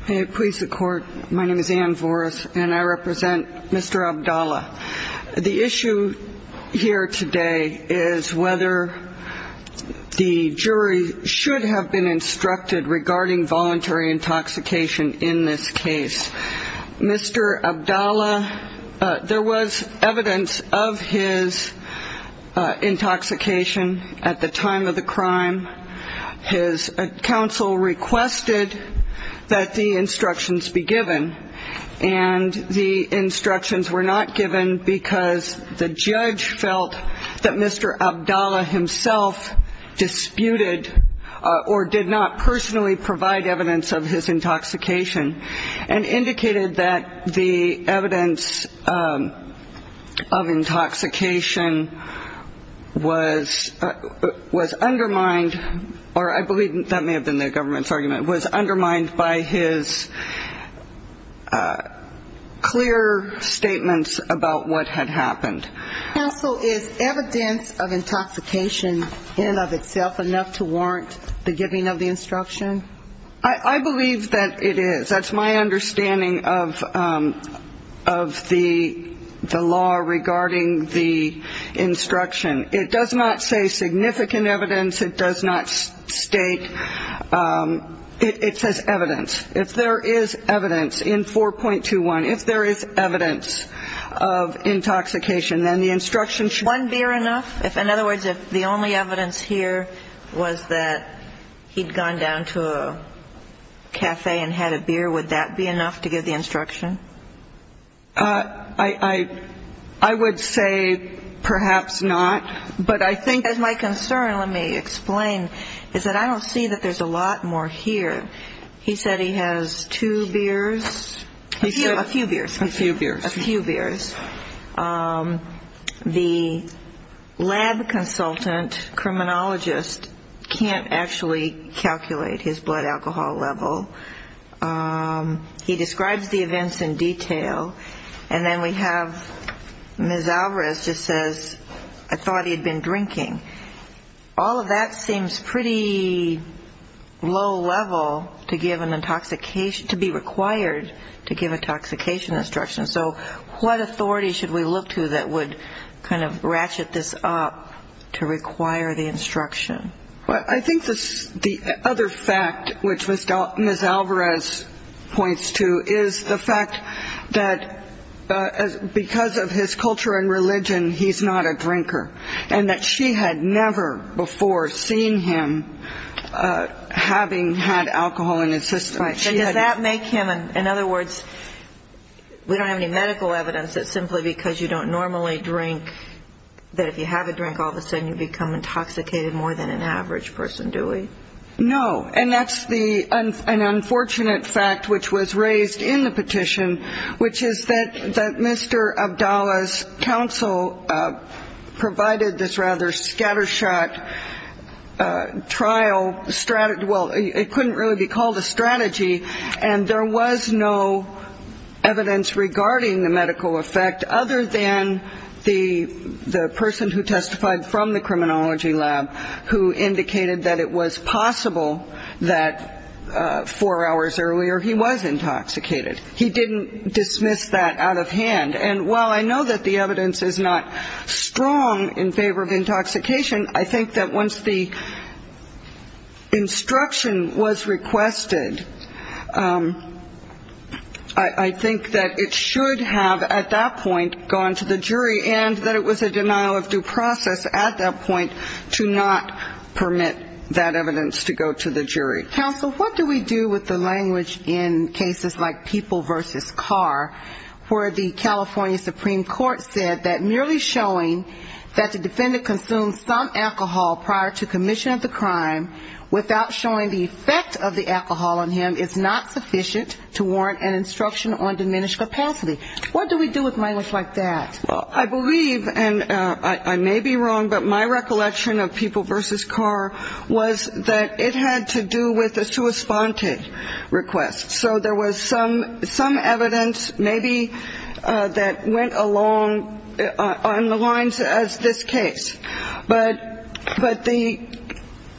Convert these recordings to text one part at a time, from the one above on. Please support. My name is Ann Voris and I represent Mr. Abdallah. The issue here today is whether the jury should have been instructed regarding voluntary intoxication in this case. Mr. Abdallah, there was evidence of his intoxication at the time of the crime. His counsel requested that the instructions be given and the instructions were not given because the judge felt that Mr. Abdallah himself disputed or did not personally provide evidence of his intoxication and indicated that the evidence of his intoxication, or I believe that may have been the government's argument, was undermined by his clear statements about what had happened. Counsel, is evidence of intoxication in and of itself enough to warrant the giving of the instruction? I believe that it is. That's my understanding of the law regarding the instruction. It does not say significant evidence. It does not state. It says evidence. If there is evidence in 4.21, if there is evidence of intoxication, then the instruction should be given. One beer enough? In other words, if the only evidence here was that he'd gone down to a cafe and had a beer, would that be enough to give the instruction? I would say perhaps not, but I have a concern, let me explain, is that I don't see that there's a lot more here. He said he has two beers. A few beers. A few beers. A few beers. The lab consultant, criminologist, can't actually calculate his blood alcohol level. He describes the events in detail, and then we have Ms. Alvarez just says, I thought he had been drinking. All of that seems pretty low level to give an intoxication, to be required to give an intoxication instruction. So what authority should we look to that would kind of ratchet this up to require the instruction? Well, I think the other fact which Ms. Alvarez points to is the fact that because of his culture and religion, he's not a drinker, and that she had never before seen him having had alcohol in his system. Right. So does that make him, in other words, we don't have any medical evidence that simply because you don't normally drink that if you have a drink, all of a sudden you become intoxicated more than an average person, do we? No. And that's an unfortunate fact which was raised in the trial. Well, it couldn't really be called a strategy, and there was no evidence regarding the medical effect other than the person who testified from the criminology lab who indicated that it was possible that four hours earlier he was intoxicated. He didn't dismiss that out of hand. And while I know that the evidence is wrong in favor of intoxication, I think that once the instruction was requested, I think that it should have at that point gone to the jury and that it was a denial of due process at that point to not permit that evidence to go to the jury. Counsel, what do we do with the language in cases like people versus car where the California Supreme Court said that merely showing that the defendant consumed some alcohol prior to commission of the crime without showing the effect of the alcohol on him is not sufficient to warrant an instruction on diminished capacity? What do we do with language like that? Well, I believe, and I may be wrong, but my recollection of people versus car was that it had to do with a sua sponte request. So there was some evidence maybe that went along on the lines as this case. But the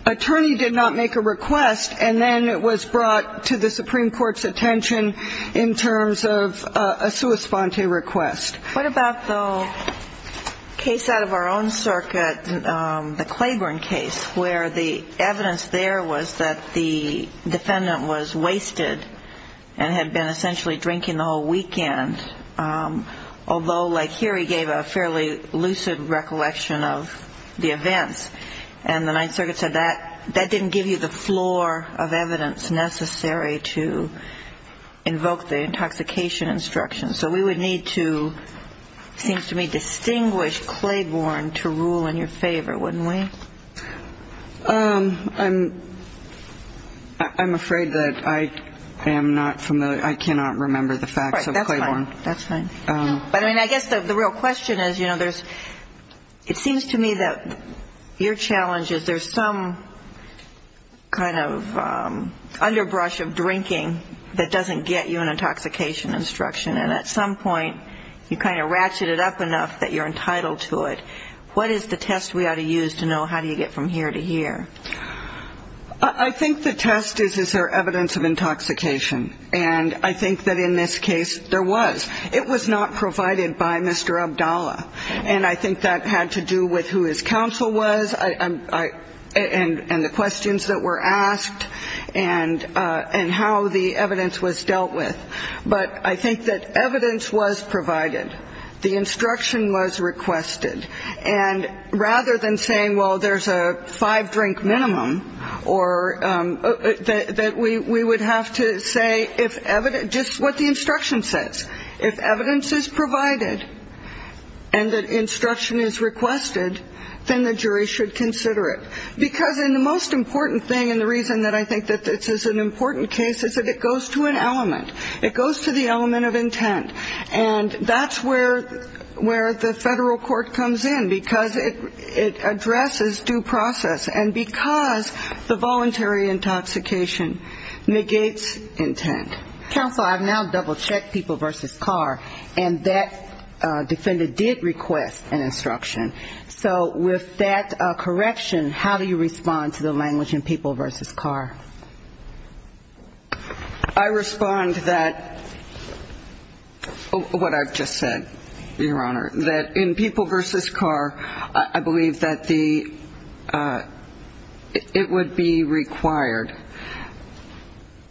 attorney did not make a request, and then it was brought to the Supreme Court's attention in terms of a sua sponte request. What about the case out of our own circuit, the Claiborne case, where the evidence there was that the defendant was wasted and had been essentially drinking the whole weekend, although, like here, he gave a fairly lucid recollection of the events. And the Ninth Circuit said that didn't give you the floor of evidence necessary to invoke the intoxication instruction. So we would need to, it seems to me, distinguish Claiborne to rule in your favor, wouldn't we? I'm afraid that I am not familiar. I cannot remember the facts of Claiborne. That's fine. But I mean, I guess the real question is, you know, there's, it seems to me that your challenge is there's some kind of underbrush of drinking that doesn't get you an intoxication instruction. And at some point, you kind of ratchet it up enough that you're entitled to it. What is the test we ought to use to know, how do you get from here to here? I think the test is, is there evidence of intoxication. And I think that in this case, there was. It was not provided by Mr. Abdallah. And I think that had to do with who his counsel was, and the questions that were asked, and how the evidence was dealt with. But I think that evidence was provided. The instruction was requested. Well, there's a five-drink minimum, or that we would have to say if evidence, just what the instruction says. If evidence is provided, and that instruction is requested, then the jury should consider it. Because in the most important thing, and the reason that I think that this is an important case, is that it goes to an element. It goes to the element of intent. And that's where the federal court federal court comes in, because it addresses the question of whether this is due process, and because the voluntary intoxication negates intent. Counsel, I've now double-checked People v. Carr, and that defendant did request an instruction. So with that correction, how do you respond to the language in People v. Carr? I respond that, what I've just said, Your Honor, that in People v. Carr, I believe that the, it would be required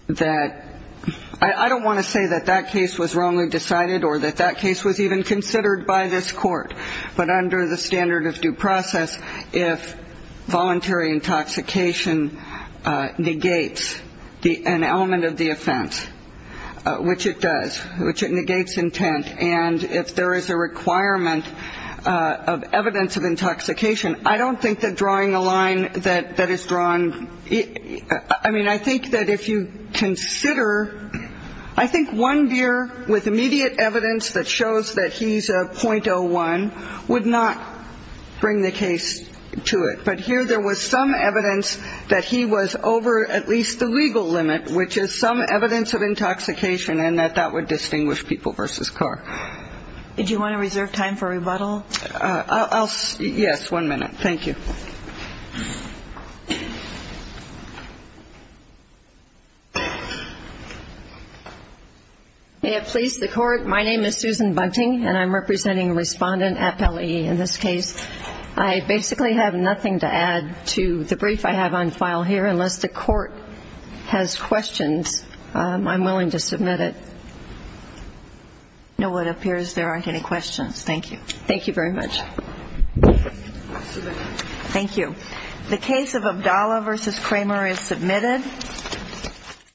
that, I don't want to say that that case was wrongly decided, or that that case was even considered by this court. But under the standard of due process, if voluntary intoxication negates an element of the offense, which it does, which it negates intent, and if there is a requirement of the evidence of intoxication, I don't think that drawing a line that is drawn, I mean, I think that if you consider, I think one deer with immediate evidence that shows that he's a .01 would not bring the case to it. But here there was some evidence that he was over at least the legal limit, which is some evidence of intoxication, and that that would distinguish People v. Carr. Do you want to reserve time for rebuttal? Yes, one minute. Thank you. May it please the Court, my name is Susan Bunting, and I'm representing a respondent at Pelley. In this case, I basically have nothing to add to the brief I have on file here, unless the Court has questions, I'm sorry, but it appears there aren't any questions. Thank you. Thank you very much. Thank you. The case of Abdallah v. Kramer is submitted.